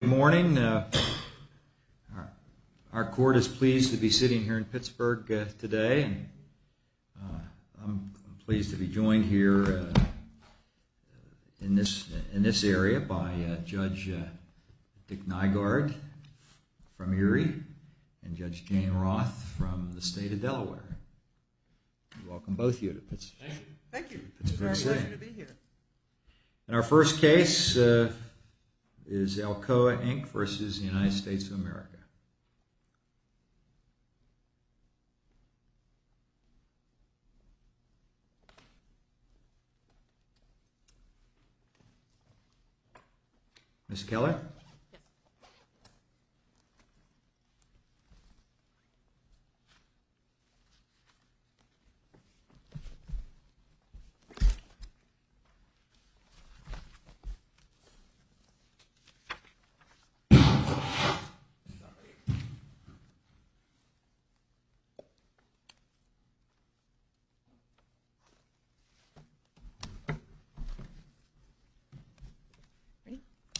Good morning. Our court is pleased to be sitting here in Pittsburgh today. I'm pleased to be joined here in this area by Judge Dick Nygaard from Erie and Judge Jane Roth from the state of Delaware. Welcome both of you to Pittsburgh. Thank you. It's a pleasure to be here. Our first case is Alcoa Inc v. United States of America.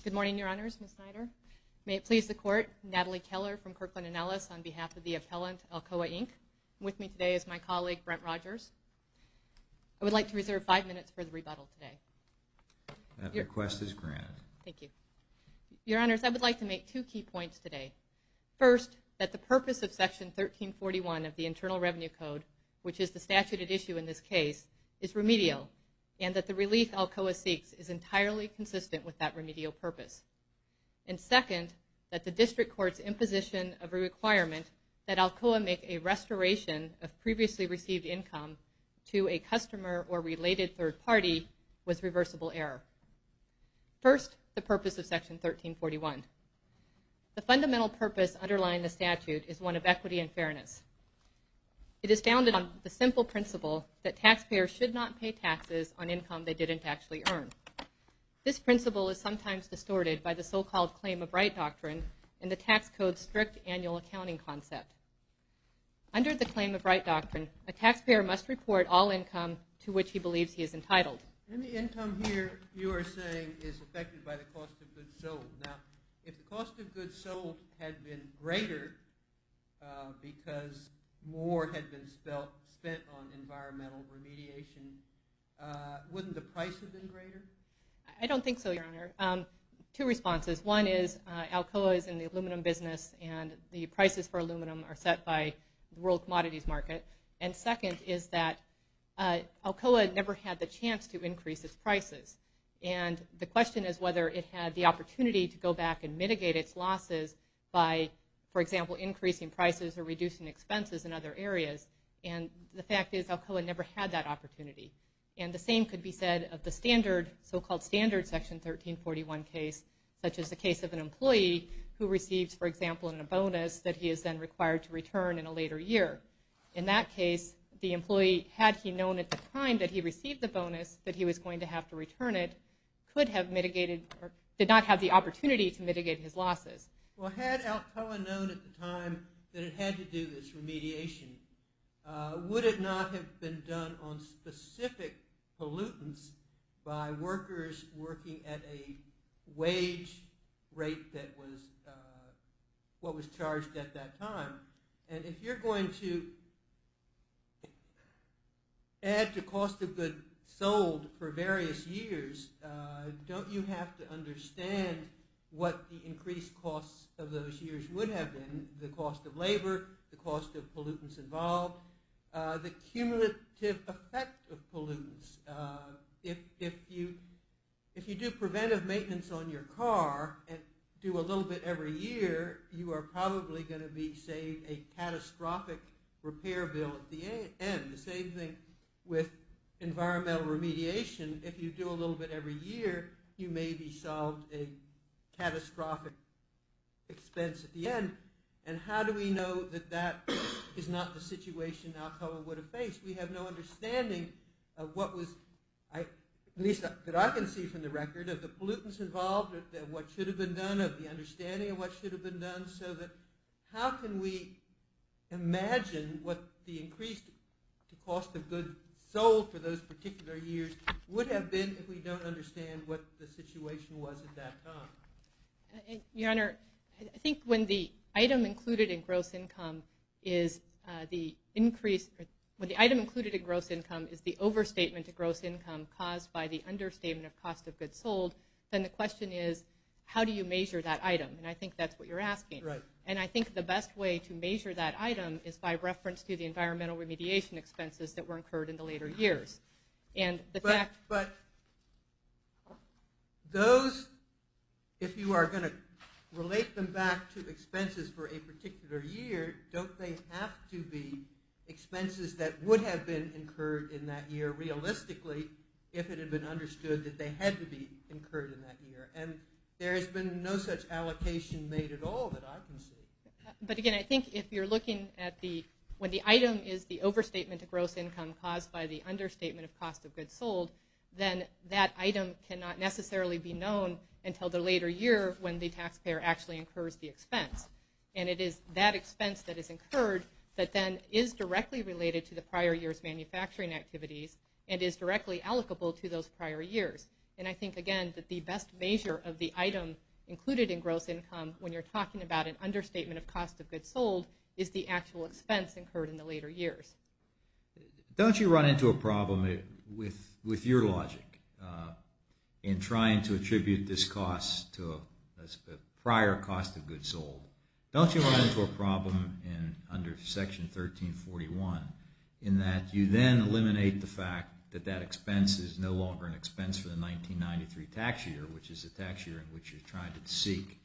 Good morning, Your Honors, Ms. Snyder. May it please the Court, Natalie Keller from Kirkland & Ellis on behalf of the appellant Alcoa Inc. With me today is my colleague, Brent Rogers. I would like to reserve five minutes for the rebuttal today. That request is granted. Thank you. Your Honors, I would like to make two key points today. First, that the purpose of Section 1341 of the Internal Revenue Code, which is the statute at issue in this case, is remedial and that the relief Alcoa seeks is entirely consistent with that remedial purpose. And second, that the district court's imposition of a requirement that Alcoa make a restoration of previously received income to a customer or related third party was reversible error. First, the purpose of Section 1341. The fundamental purpose underlying the statute is one of equity and fairness. It is founded on the simple principle that taxpayers should not pay taxes on income they didn't actually earn. This principle is sometimes distorted by the so-called Claim of Right Doctrine and the tax code's strict annual accounting concept. Under the Claim of Right Doctrine, a taxpayer must report all income to which he believes he is entitled. And the income here you are saying is affected by the cost of goods sold. Now, if the cost of goods sold had been greater because more had been spent on environmental remediation, wouldn't the price have been greater? I don't think so, Your Honor. Two responses. One is Alcoa is in the aluminum business and the prices for aluminum are set by the world commodities market. And second is that Alcoa never had the chance to increase its prices. And the question is whether it had the opportunity to go back and mitigate its losses by, for example, increasing prices or reducing expenses in other areas. And the fact is Alcoa never had that opportunity. And the same could be said of the so-called standard Section 1341 case, such as the case of an employee who receives, for example, a bonus that he is then required to return in a later year. In that case, the employee, had he known at the time that he received the bonus that he was going to have to return it, could have mitigated, or did not have the opportunity to mitigate his losses. Well, had Alcoa known at the time that it had to do this remediation, would it not have been done on specific pollutants by workers working at a wage rate that was, what was charged at that time? And if you're going to add to cost of goods sold for various years, don't you have to understand what the increased costs of those years would have been? The cost of labor, the cost of pollutants involved, the cumulative effect of pollutants. If you do preventive maintenance on your car and do a little bit every year, you are probably going to be saved a catastrophic repair bill at the end. The same thing with environmental remediation. If you do a little bit every year, you may be solved a catastrophic expense at the end. And how do we know that that is not the situation Alcoa would have faced? We have no understanding of what was, at least that I can see from the record, of the pollutants involved, of what should have been done, of the understanding of what should have been done, so that how can we imagine what the increased cost of goods sold for those particular years would have been if we don't understand what the situation was at that time? Your Honor, I think when the item included in gross income is the overstatement of gross income caused by the understatement of cost of goods sold, then the question is, how do you measure that item? And I think that's what you're asking. And I think the best way to measure that item is by reference to the environmental remediation expenses that were incurred in the later years. But those, if you are going to relate them back to expenses for a particular year, don't they have to be expenses that would have been incurred in that year realistically if it had been understood that they had to be incurred in that year? And there has been no such allocation made at all that I can see. But again, I think if you're looking at the – when the item is the overstatement of gross income caused by the understatement of cost of goods sold, then that item cannot necessarily be known until the later year when the taxpayer actually incurs the expense. And it is that expense that is incurred that then is directly related to the prior year's manufacturing activities and is directly allocable to those prior years. And I think, again, that the best measure of the item included in gross income when you're talking about an understatement of cost of goods sold is the actual expense incurred in the later years. Don't you run into a problem with your logic in trying to attribute this cost to a prior cost of goods sold? Don't you run into a problem under Section 1341 in that you then eliminate the fact that that expense is no longer an expense for the 1993 tax year, which is the tax year in which you're trying to seek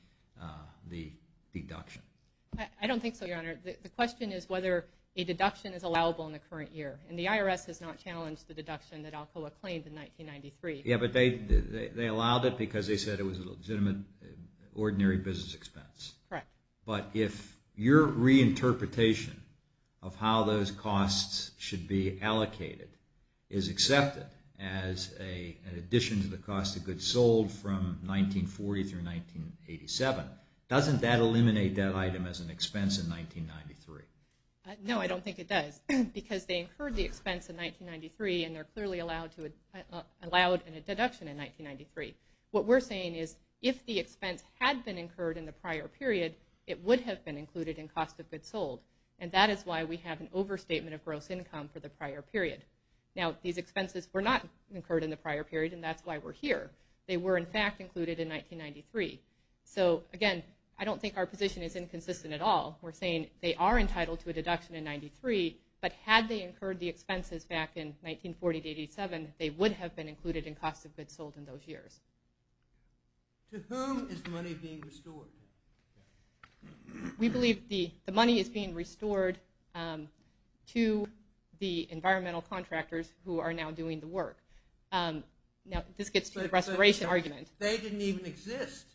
the deduction? I don't think so, Your Honor. The question is whether a deduction is allowable in the current year. And the IRS has not challenged the deduction that Alcoa claimed in 1993. Yeah, but they allowed it because they said it was a legitimate ordinary business expense. Correct. But if your reinterpretation of how those costs should be allocated is accepted as an addition to the cost of goods sold from 1940 through 1987, doesn't that eliminate that item as an expense in 1993? No, I don't think it does because they incurred the expense in 1993 and they're clearly allowed a deduction in 1993. What we're saying is if the expense had been incurred in the prior period, it would have been included in cost of goods sold, and that is why we have an overstatement of gross income for the prior period. Now, these expenses were not incurred in the prior period, and that's why we're here. They were, in fact, included in 1993. So, again, I don't think our position is inconsistent at all. We're saying they are entitled to a deduction in 93, but had they incurred the expenses back in 1940 to 87, they would have been included in cost of goods sold in those years. To whom is the money being restored? We believe the money is being restored to the environmental contractors who are now doing the work. Now, this gets to the restoration argument. They didn't even exist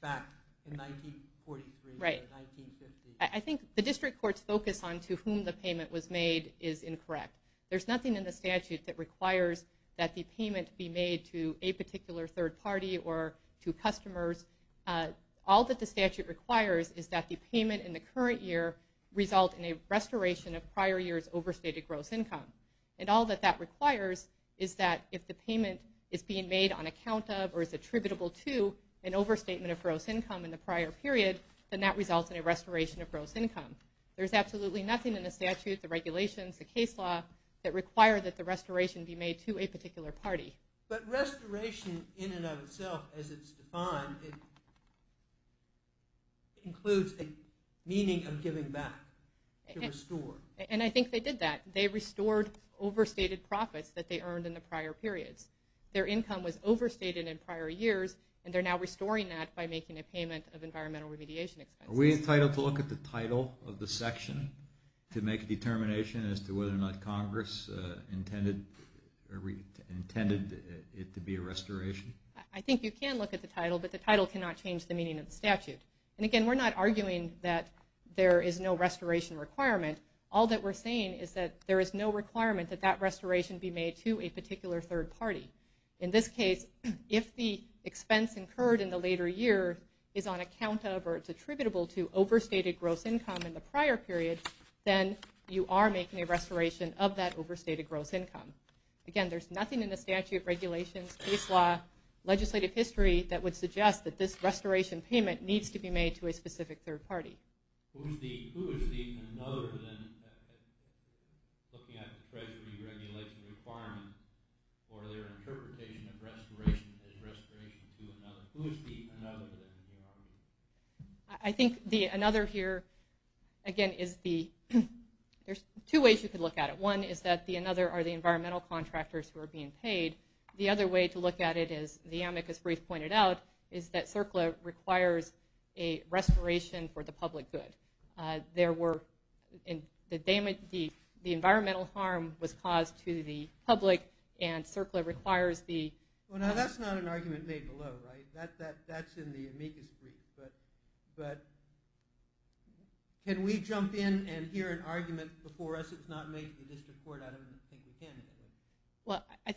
back in 1943 or 1950. Right. I think the district court's focus on to whom the payment was made is incorrect. There's nothing in the statute that requires that the payment be made to a particular third party or to customers. All that the statute requires is that the payment in the current year result in a restoration of prior year's overstated gross income. And all that that requires is that if the payment is being made on account of or is attributable to an overstatement of gross income in the prior period, then that results in a restoration of gross income. There's absolutely nothing in the statute, the regulations, the case law that require that the restoration be made to a particular party. But restoration in and of itself, as it's defined, includes a meaning of giving back, to restore. And I think they did that. They restored overstated profits that they earned in the prior periods. Their income was overstated in prior years, and they're now restoring that by making a payment of environmental remediation expenses. Are we entitled to look at the title of the section to make a determination as to whether or not Congress intended it to be a restoration? I think you can look at the title, but the title cannot change the meaning of the statute. And again, we're not arguing that there is no restoration requirement. All that we're saying is that there is no requirement that that restoration be made to a particular third party. In this case, if the expense incurred in the later year is attributable to overstated gross income in the prior period, then you are making a restoration of that overstated gross income. Again, there's nothing in the statute, regulations, case law, legislative history that would suggest that this restoration payment needs to be made to a specific third party. Who is the another then looking at the treasury regulation requirement for their interpretation of restoration as restoration to another? Who is the another then? I think the another here, again, is the – there's two ways you could look at it. One is that the another are the environmental contractors who are being paid. The other way to look at it, as the amicus brief pointed out, is that CERCLA requires a restoration for the public good. There were – the environmental harm was caused to the public, and CERCLA requires the – Well, now, that's not an argument made below, right? That's in the amicus brief. But can we jump in and hear an argument before us that's not made to this report? I don't think we can. Well, I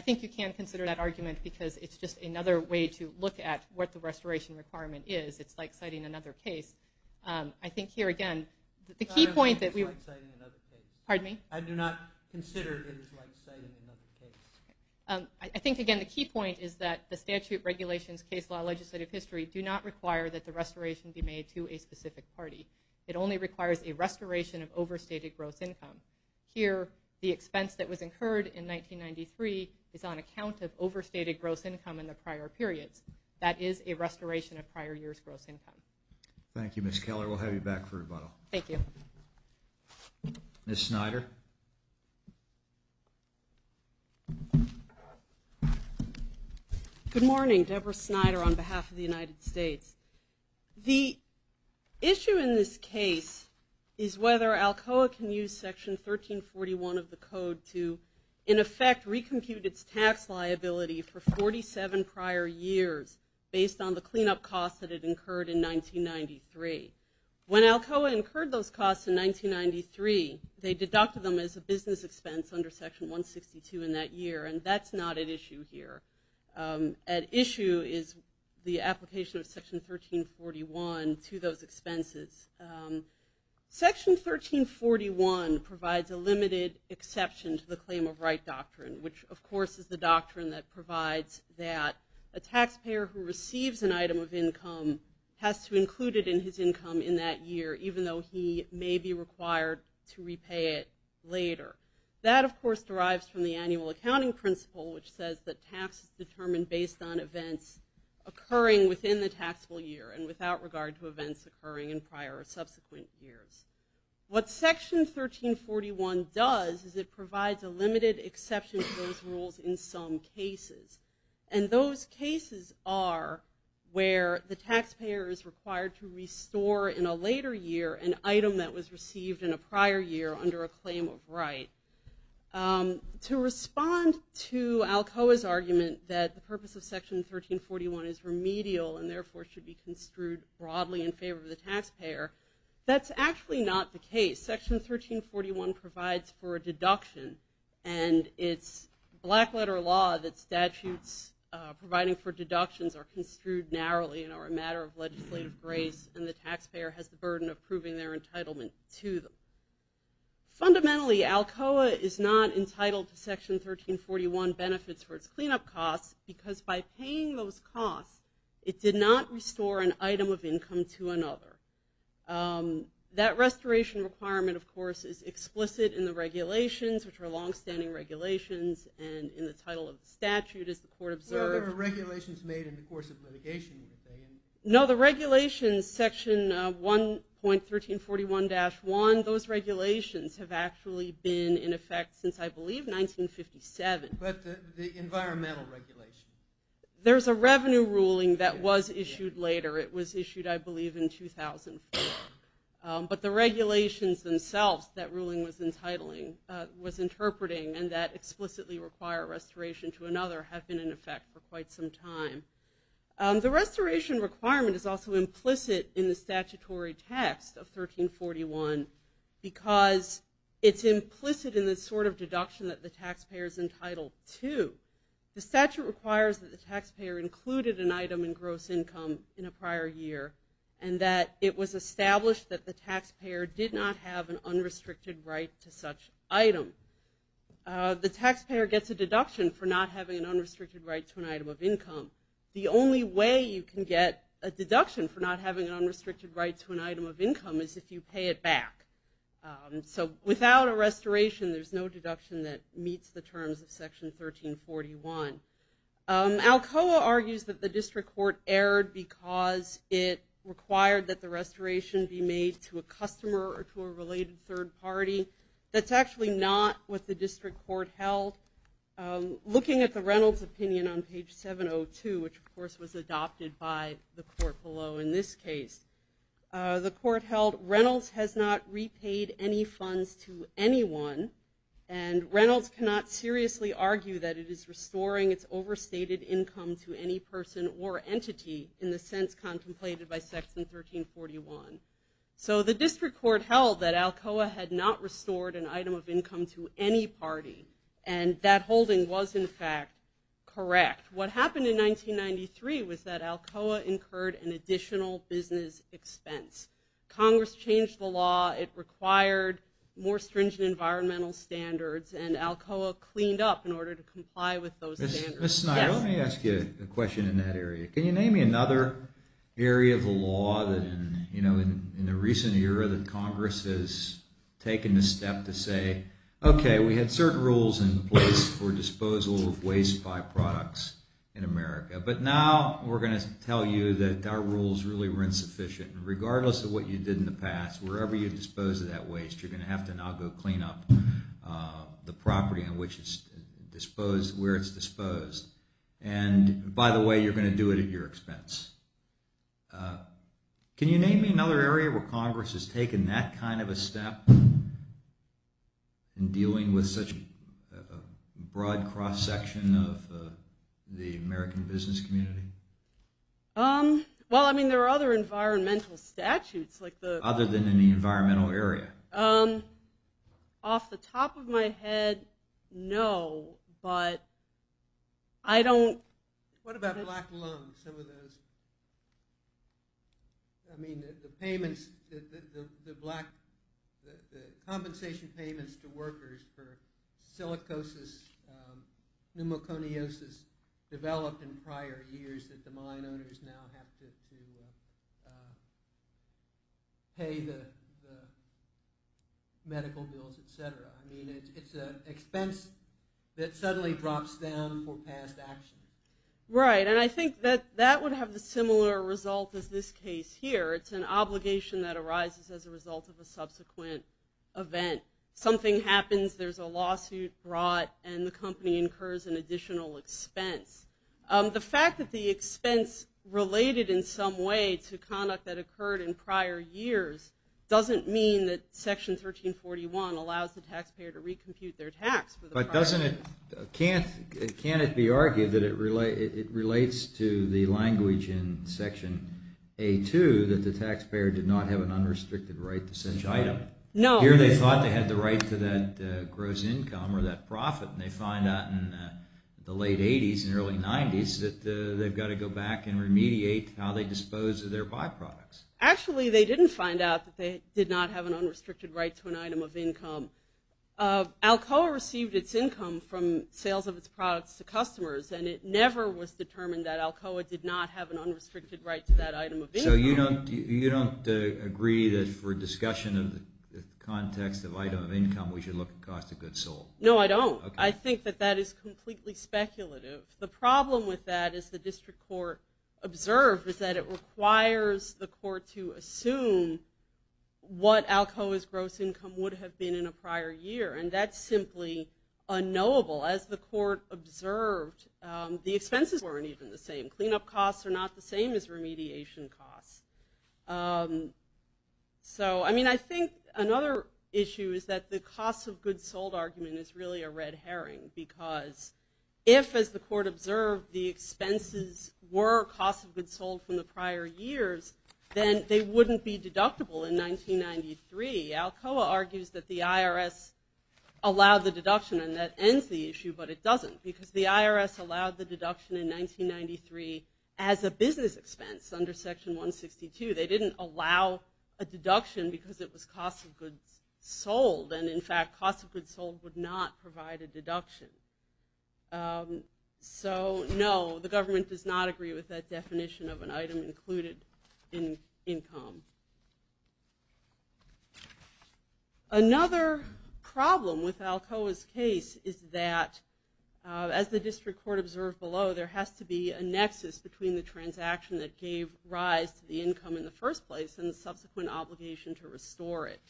think you can consider that argument because it's just another way to look at what the restoration requirement is. It's like citing another case. I think here, again, the key point that we – It's like citing another case. Pardon me? I do not consider it like citing another case. I think, again, the key point is that the statute, regulations, case law, legislative history do not require that the restoration be made to a specific party. It only requires a restoration of overstated gross income. Here, the expense that was incurred in 1993 is on account of overstated gross income in the prior periods. That is a restoration of prior years' gross income. Thank you, Ms. Keller. We'll have you back for rebuttal. Thank you. Ms. Snyder? Good morning. Deborah Snyder on behalf of the United States. The issue in this case is whether ALCOA can use Section 1341 of the code to, in effect, recompute its tax liability for 47 prior years based on the cleanup costs that it incurred in 1993. When ALCOA incurred those costs in 1993, they deducted them as a business expense under Section 162 in that year, and that's not at issue here. At issue is the application of Section 1341 to those expenses. Section 1341 provides a limited exception to the claim of right doctrine, which, of course, is the doctrine that provides that a taxpayer who receives an item of income has to include it in his income in that year, even though he may be required to repay it later. That, of course, derives from the annual accounting principle, which says that tax is determined based on events occurring within the taxable year and without regard to events occurring in prior or subsequent years. What Section 1341 does is it provides a limited exception to those rules in some cases, and those cases are where the taxpayer is required to restore in a later year an item that was received in a prior year under a claim of right. To respond to ALCOA's argument that the purpose of Section 1341 is remedial and therefore should be construed broadly in favor of the taxpayer, that's actually not the case. Section 1341 provides for a deduction, and it's black-letter law that statutes providing for deductions are construed narrowly and are a matter of legislative grace, and the taxpayer has the burden of proving their entitlement to them. Fundamentally, ALCOA is not entitled to Section 1341 benefits for its cleanup costs because by paying those costs, it did not restore an item of income to another. That restoration requirement, of course, is explicit in the regulations, which are longstanding regulations, and in the title of the statute, as the court observed. There were regulations made in the course of litigation. No, the regulations, Section 1.1341-1, those regulations have actually been in effect since, I believe, 1957. But the environmental regulation. There's a revenue ruling that was issued later. It was issued, I believe, in 2004. But the regulations themselves that ruling was entitling, was interpreting, and that explicitly require restoration to another have been in effect for quite some time. The restoration requirement is also implicit in the statutory text of 1341 because it's implicit in the sort of deduction that the taxpayer is entitled to. The statute requires that the taxpayer included an item in gross income in a prior year and that it was established that the taxpayer did not have an unrestricted right to such item. The taxpayer gets a deduction for not having an unrestricted right to an item of income. The only way you can get a deduction for not having an unrestricted right to an item of income is if you pay it back. So without a restoration, there's no deduction that meets the terms of Section 1341. Alcoa argues that the district court erred because it required that the restoration be made to a customer or to a related third party. That's actually not what the district court held. Looking at the Reynolds opinion on page 702, which, of course, was adopted by the court below in this case, the court held Reynolds has not repaid any funds to anyone, and Reynolds cannot seriously argue that it is restoring its overstated income to any person or entity in the sense contemplated by Section 1341. So the district court held that Alcoa had not restored an item of income to any party, and that holding was, in fact, correct. What happened in 1993 was that Alcoa incurred an additional business expense. Congress changed the law. It required more stringent environmental standards, and Alcoa cleaned up in order to comply with those standards. Ms. Snyder, let me ask you a question in that area. Can you name me another area of the law that, you know, in the recent era that Congress has taken the step to say, okay, we had certain rules in place for disposal of waste byproducts in America, but now we're going to tell you that our rules really were insufficient. Regardless of what you did in the past, wherever you dispose of that waste, you're going to have to now go clean up the property where it's disposed. And, by the way, you're going to do it at your expense. Can you name me another area where Congress has taken that kind of a step in dealing with such a broad cross-section of the American business community? Well, I mean, there are other environmental statutes. Other than in the environmental area. Off the top of my head, no, but I don't. What about black loans, some of those? I mean, the payments, the compensation payments to workers for silicosis, pneumoconiosis developed in prior years that the mine owners now have to pay the medical bills, et cetera. I mean, it's an expense that suddenly drops down for past actions. Right, and I think that that would have the similar result as this case here. It's an obligation that arises as a result of a subsequent event. Something happens, there's a lawsuit brought, and the company incurs an additional expense. The fact that the expense related in some way to conduct that occurred in prior years doesn't mean that Section 1341 allows the taxpayer to recompute their tax. But can't it be argued that it relates to the language in Section A-2 that the taxpayer did not have an unrestricted right to send money? No. Here they thought they had the right to that gross income or that profit, and they find out in the late 80s and early 90s that they've got to go back and remediate how they dispose of their byproducts. Actually, they didn't find out that they did not have an unrestricted right to an item of income. Alcoa received its income from sales of its products to customers, and it never was determined that Alcoa did not have an unrestricted right to that item of income. So you don't agree that for discussion of the context of item of income, we should look at cost of goods sold? No, I don't. I think that that is completely speculative. The problem with that, as the district court observed, is that it requires the court to assume what Alcoa's gross income would have been in a prior year, and that's simply unknowable. As the court observed, the expenses weren't even the same. Cleanup costs are not the same as remediation costs. So, I mean, I think another issue is that the cost of goods sold argument is really a red herring because if, as the court observed, the expenses were cost of goods sold from the prior years, then they wouldn't be deductible in 1993. Alcoa argues that the IRS allowed the deduction, and that ends the issue, but it doesn't, because the IRS allowed the deduction in 1993 as a business expense under Section 162. They didn't allow a deduction because it was cost of goods sold, and, in fact, cost of goods sold would not provide a deduction. So, no, the government does not agree with that definition of an item included in income. Another problem with Alcoa's case is that, as the district court observed below, there has to be a nexus between the transaction that gave rise to the income in the first place and the subsequent obligation to restore it.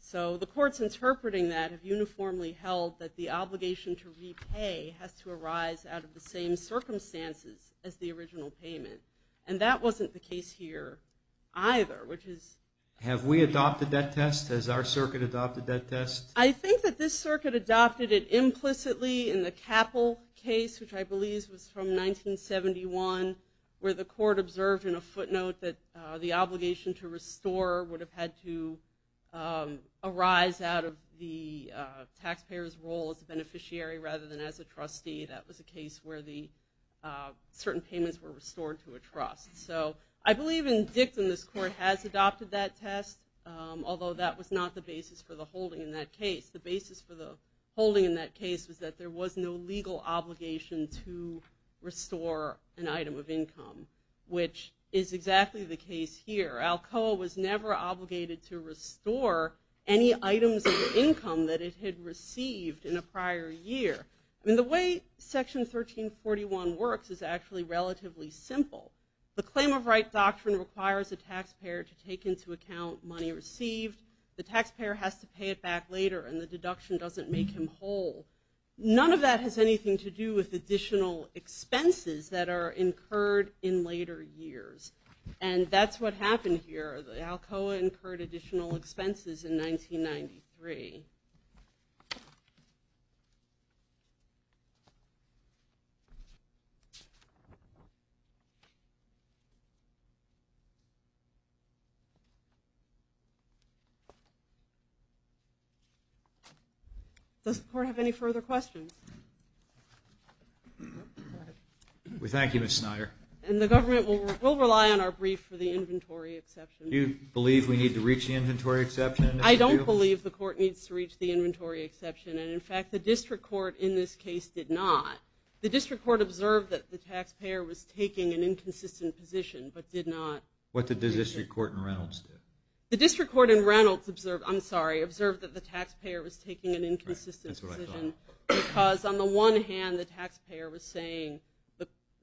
So the courts interpreting that have uniformly held that the obligation to repay has to arise out of the same circumstances as the original payment, and that wasn't the case here either. Have we adopted that test? Has our circuit adopted that test? I think that this circuit adopted it implicitly in the Capple case, which I believe was from 1971, where the court observed in a footnote that the obligation to restore would have had to arise out of the taxpayer's role as a beneficiary rather than as a trustee. That was a case where certain payments were restored to a trust. So I believe in dictum this court has adopted that test, although that was not the basis for the holding in that case. The basis for the holding in that case was that there was no legal obligation to restore an item of income, which is exactly the case here. Alcoa was never obligated to restore any items of income that it had received in a prior year. I mean, the way Section 1341 works is actually relatively simple. The claim of right doctrine requires a taxpayer to take into account money received. The taxpayer has to pay it back later, and the deduction doesn't make him whole. None of that has anything to do with additional expenses that are incurred in later years, and that's what happened here. Alcoa incurred additional expenses in 1993. Does the court have any further questions? We thank you, Ms. Snyder. And the government will rely on our brief for the inventory exception. Do you believe we need to reach the inventory exception? I don't believe the court needs to reach the inventory exception, and, in fact, the district court in this case did not. The district court observed that the taxpayer was taking an inconsistent position but did not. What did the district court in Reynolds do? The district court in Reynolds observed, I'm sorry, observed that the taxpayer was taking an inconsistent position. Right, that's what I thought. Because, on the one hand, the taxpayer was saying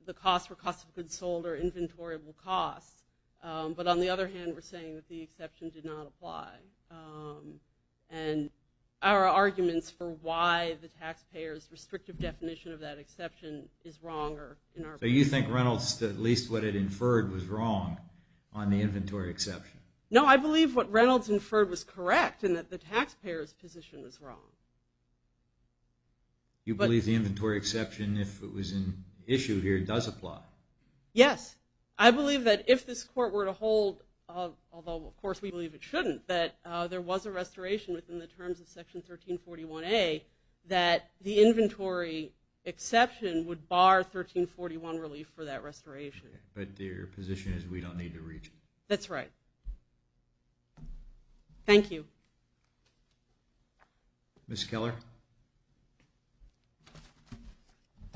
the costs were costs of goods sold or inventoryable costs, but, on the other hand, were saying that the exception did not apply. And there are arguments for why the taxpayer's restrictive definition of that exception is wrong. So you think Reynolds, at least what it inferred, was wrong on the inventory exception? No, I believe what Reynolds inferred was correct and that the taxpayer's position was wrong. You believe the inventory exception, if it was an issue here, does apply? Yes. I believe that if this court were to hold, although, of course, we believe it shouldn't, that there was a restoration within the terms of Section 1341A, that the inventory exception would bar 1341 relief for that restoration. But their position is we don't need to reach it. That's right. Thank you. Ms. Keller? I'd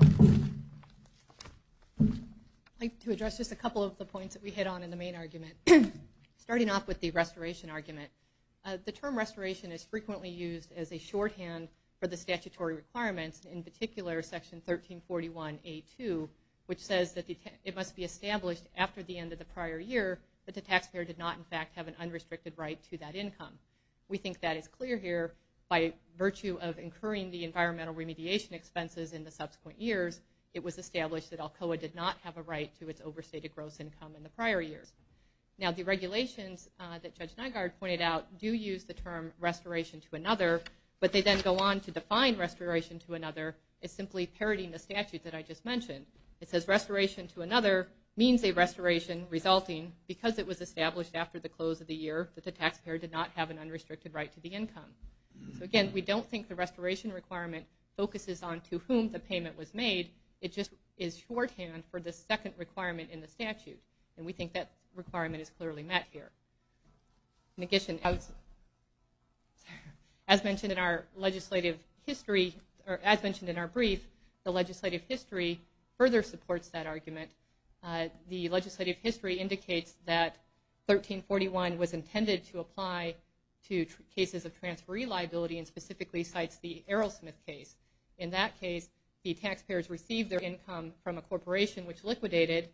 like to address just a couple of the points that we hit on in the main argument. Starting off with the restoration argument, the term restoration is frequently used as a shorthand for the statutory requirements, in particular Section 1341A-2, which says that it must be established after the end of the prior year that the taxpayer did not, in fact, have an unrestricted right to that income. We think that is clear here. By virtue of incurring the environmental remediation expenses in the subsequent years, it was established that Alcoa did not have a right to its overstated gross income in the prior years. Now, the regulations that Judge Nygaard pointed out do use the term restoration to another, but they then go on to define restoration to another as simply parroting the statute that I just mentioned. It says restoration to another means a restoration resulting, because it was established after the close of the year, that the taxpayer did not have an unrestricted right to the income. Again, we don't think the restoration requirement focuses on to whom the payment was made. It just is shorthand for the second requirement in the statute, and we think that requirement is clearly met here. As mentioned in our legislative history, or as mentioned in our brief, the legislative history further supports that argument. The legislative history indicates that 1341 was intended to apply to cases of transferee liability and specifically cites the Aerosmith case. In that case, the taxpayers received their income from a corporation which liquidated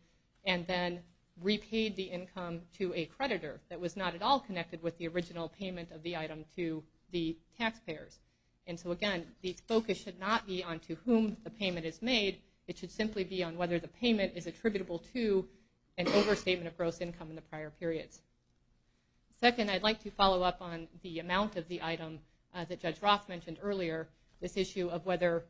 and then repaid the income to a creditor that was not at all connected with the original payment of the item to the taxpayers. Again, the focus should not be on to whom the payment is made. It should simply be on whether the payment is attributable to an overstatement of gross income in the prior periods. Second, I'd like to follow up on the amount of the item that Judge Roth mentioned earlier, this issue of whether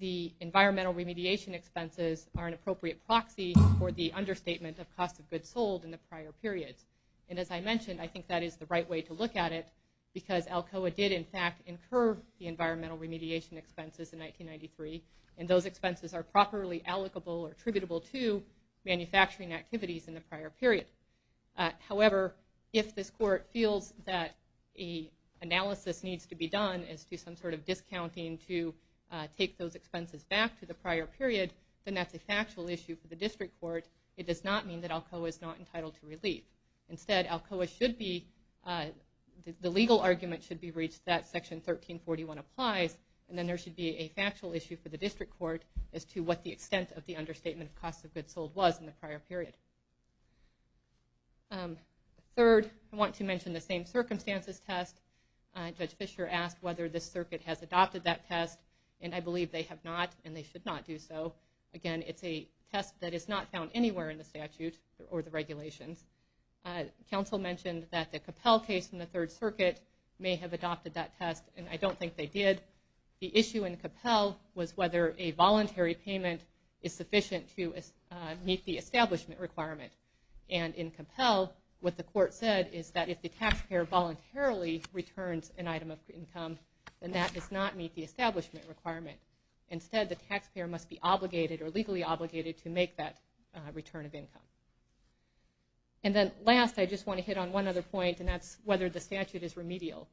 the environmental remediation expenses are an appropriate proxy for the understatement of cost of goods sold in the prior periods. And as I mentioned, I think that is the right way to look at it because ALCOA did, in fact, incur the environmental remediation expenses in 1993, and those expenses are properly allocable or attributable to manufacturing activities in the prior period. However, if this court feels that an analysis needs to be done as to some sort of discounting to take those expenses back to the prior period, then that's a factual issue for the district court. It does not mean that ALCOA is not entitled to relief. Instead, the legal argument should be reached that Section 1341 applies, and then there should be a factual issue for the district court as to what the extent of the understatement of cost of goods sold was in the prior period. Third, I want to mention the same circumstances test. Judge Fischer asked whether this circuit has adopted that test, and I believe they have not, and they should not do so. Again, it's a test that is not found anywhere in the statute or the regulations. Council mentioned that the Capel case in the Third Circuit may have adopted that test, and I don't think they did. The issue in Capel was whether a voluntary payment is sufficient to meet the establishment requirement. And in Capel, what the court said is that if the taxpayer voluntarily returns an item of income, then that does not meet the establishment requirement. Instead, the taxpayer must be obligated or legally obligated to make that return of income. And then last, I just want to hit on one other point, and that's whether the statute is remedial.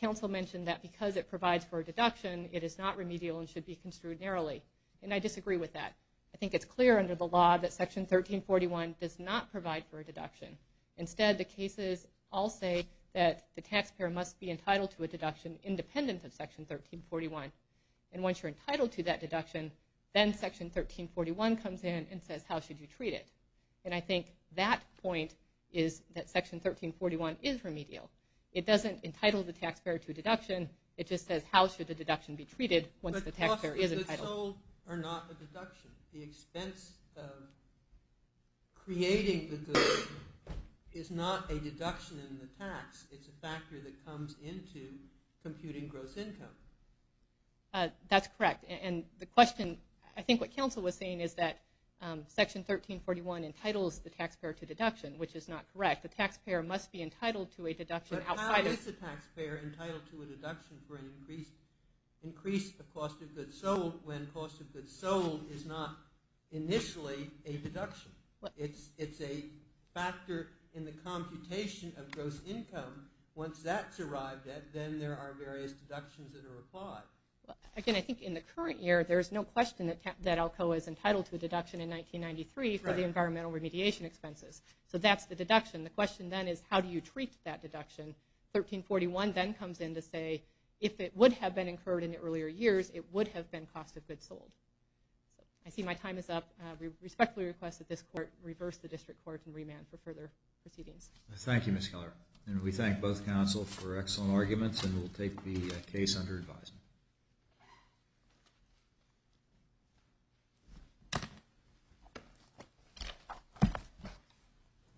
Council mentioned that because it provides for a deduction, it is not remedial and should be construed narrowly, and I disagree with that. I think it's clear under the law that Section 1341 does not provide for a deduction. Instead, the cases all say that the taxpayer must be entitled to a deduction independent of Section 1341, and once you're entitled to that deduction, then Section 1341 comes in and says, how should you treat it? And I think that point is that Section 1341 is remedial. It doesn't entitle the taxpayer to a deduction. It just says, how should the deduction be treated once the taxpayer is entitled? Costs sold are not a deduction. The expense of creating the goods is not a deduction in the tax. It's a factor that comes into computing gross income. That's correct. And the question – I think what Council was saying is that Section 1341 entitles the taxpayer to deduction, which is not correct. The taxpayer must be entitled to a deduction outside of – is not initially a deduction. It's a factor in the computation of gross income. Once that's arrived at, then there are various deductions that are applied. Again, I think in the current year, there's no question that ALCOA is entitled to a deduction in 1993 for the environmental remediation expenses. So that's the deduction. The question then is, how do you treat that deduction? 1341 then comes in to say, if it would have been incurred in the earlier years, it would have been cost of goods sold. I see my time is up. We respectfully request that this Court reverse the District Court and remand for further proceedings. Thank you, Ms. Keller. And we thank both Council for excellent arguments, and we'll take the case under advisement.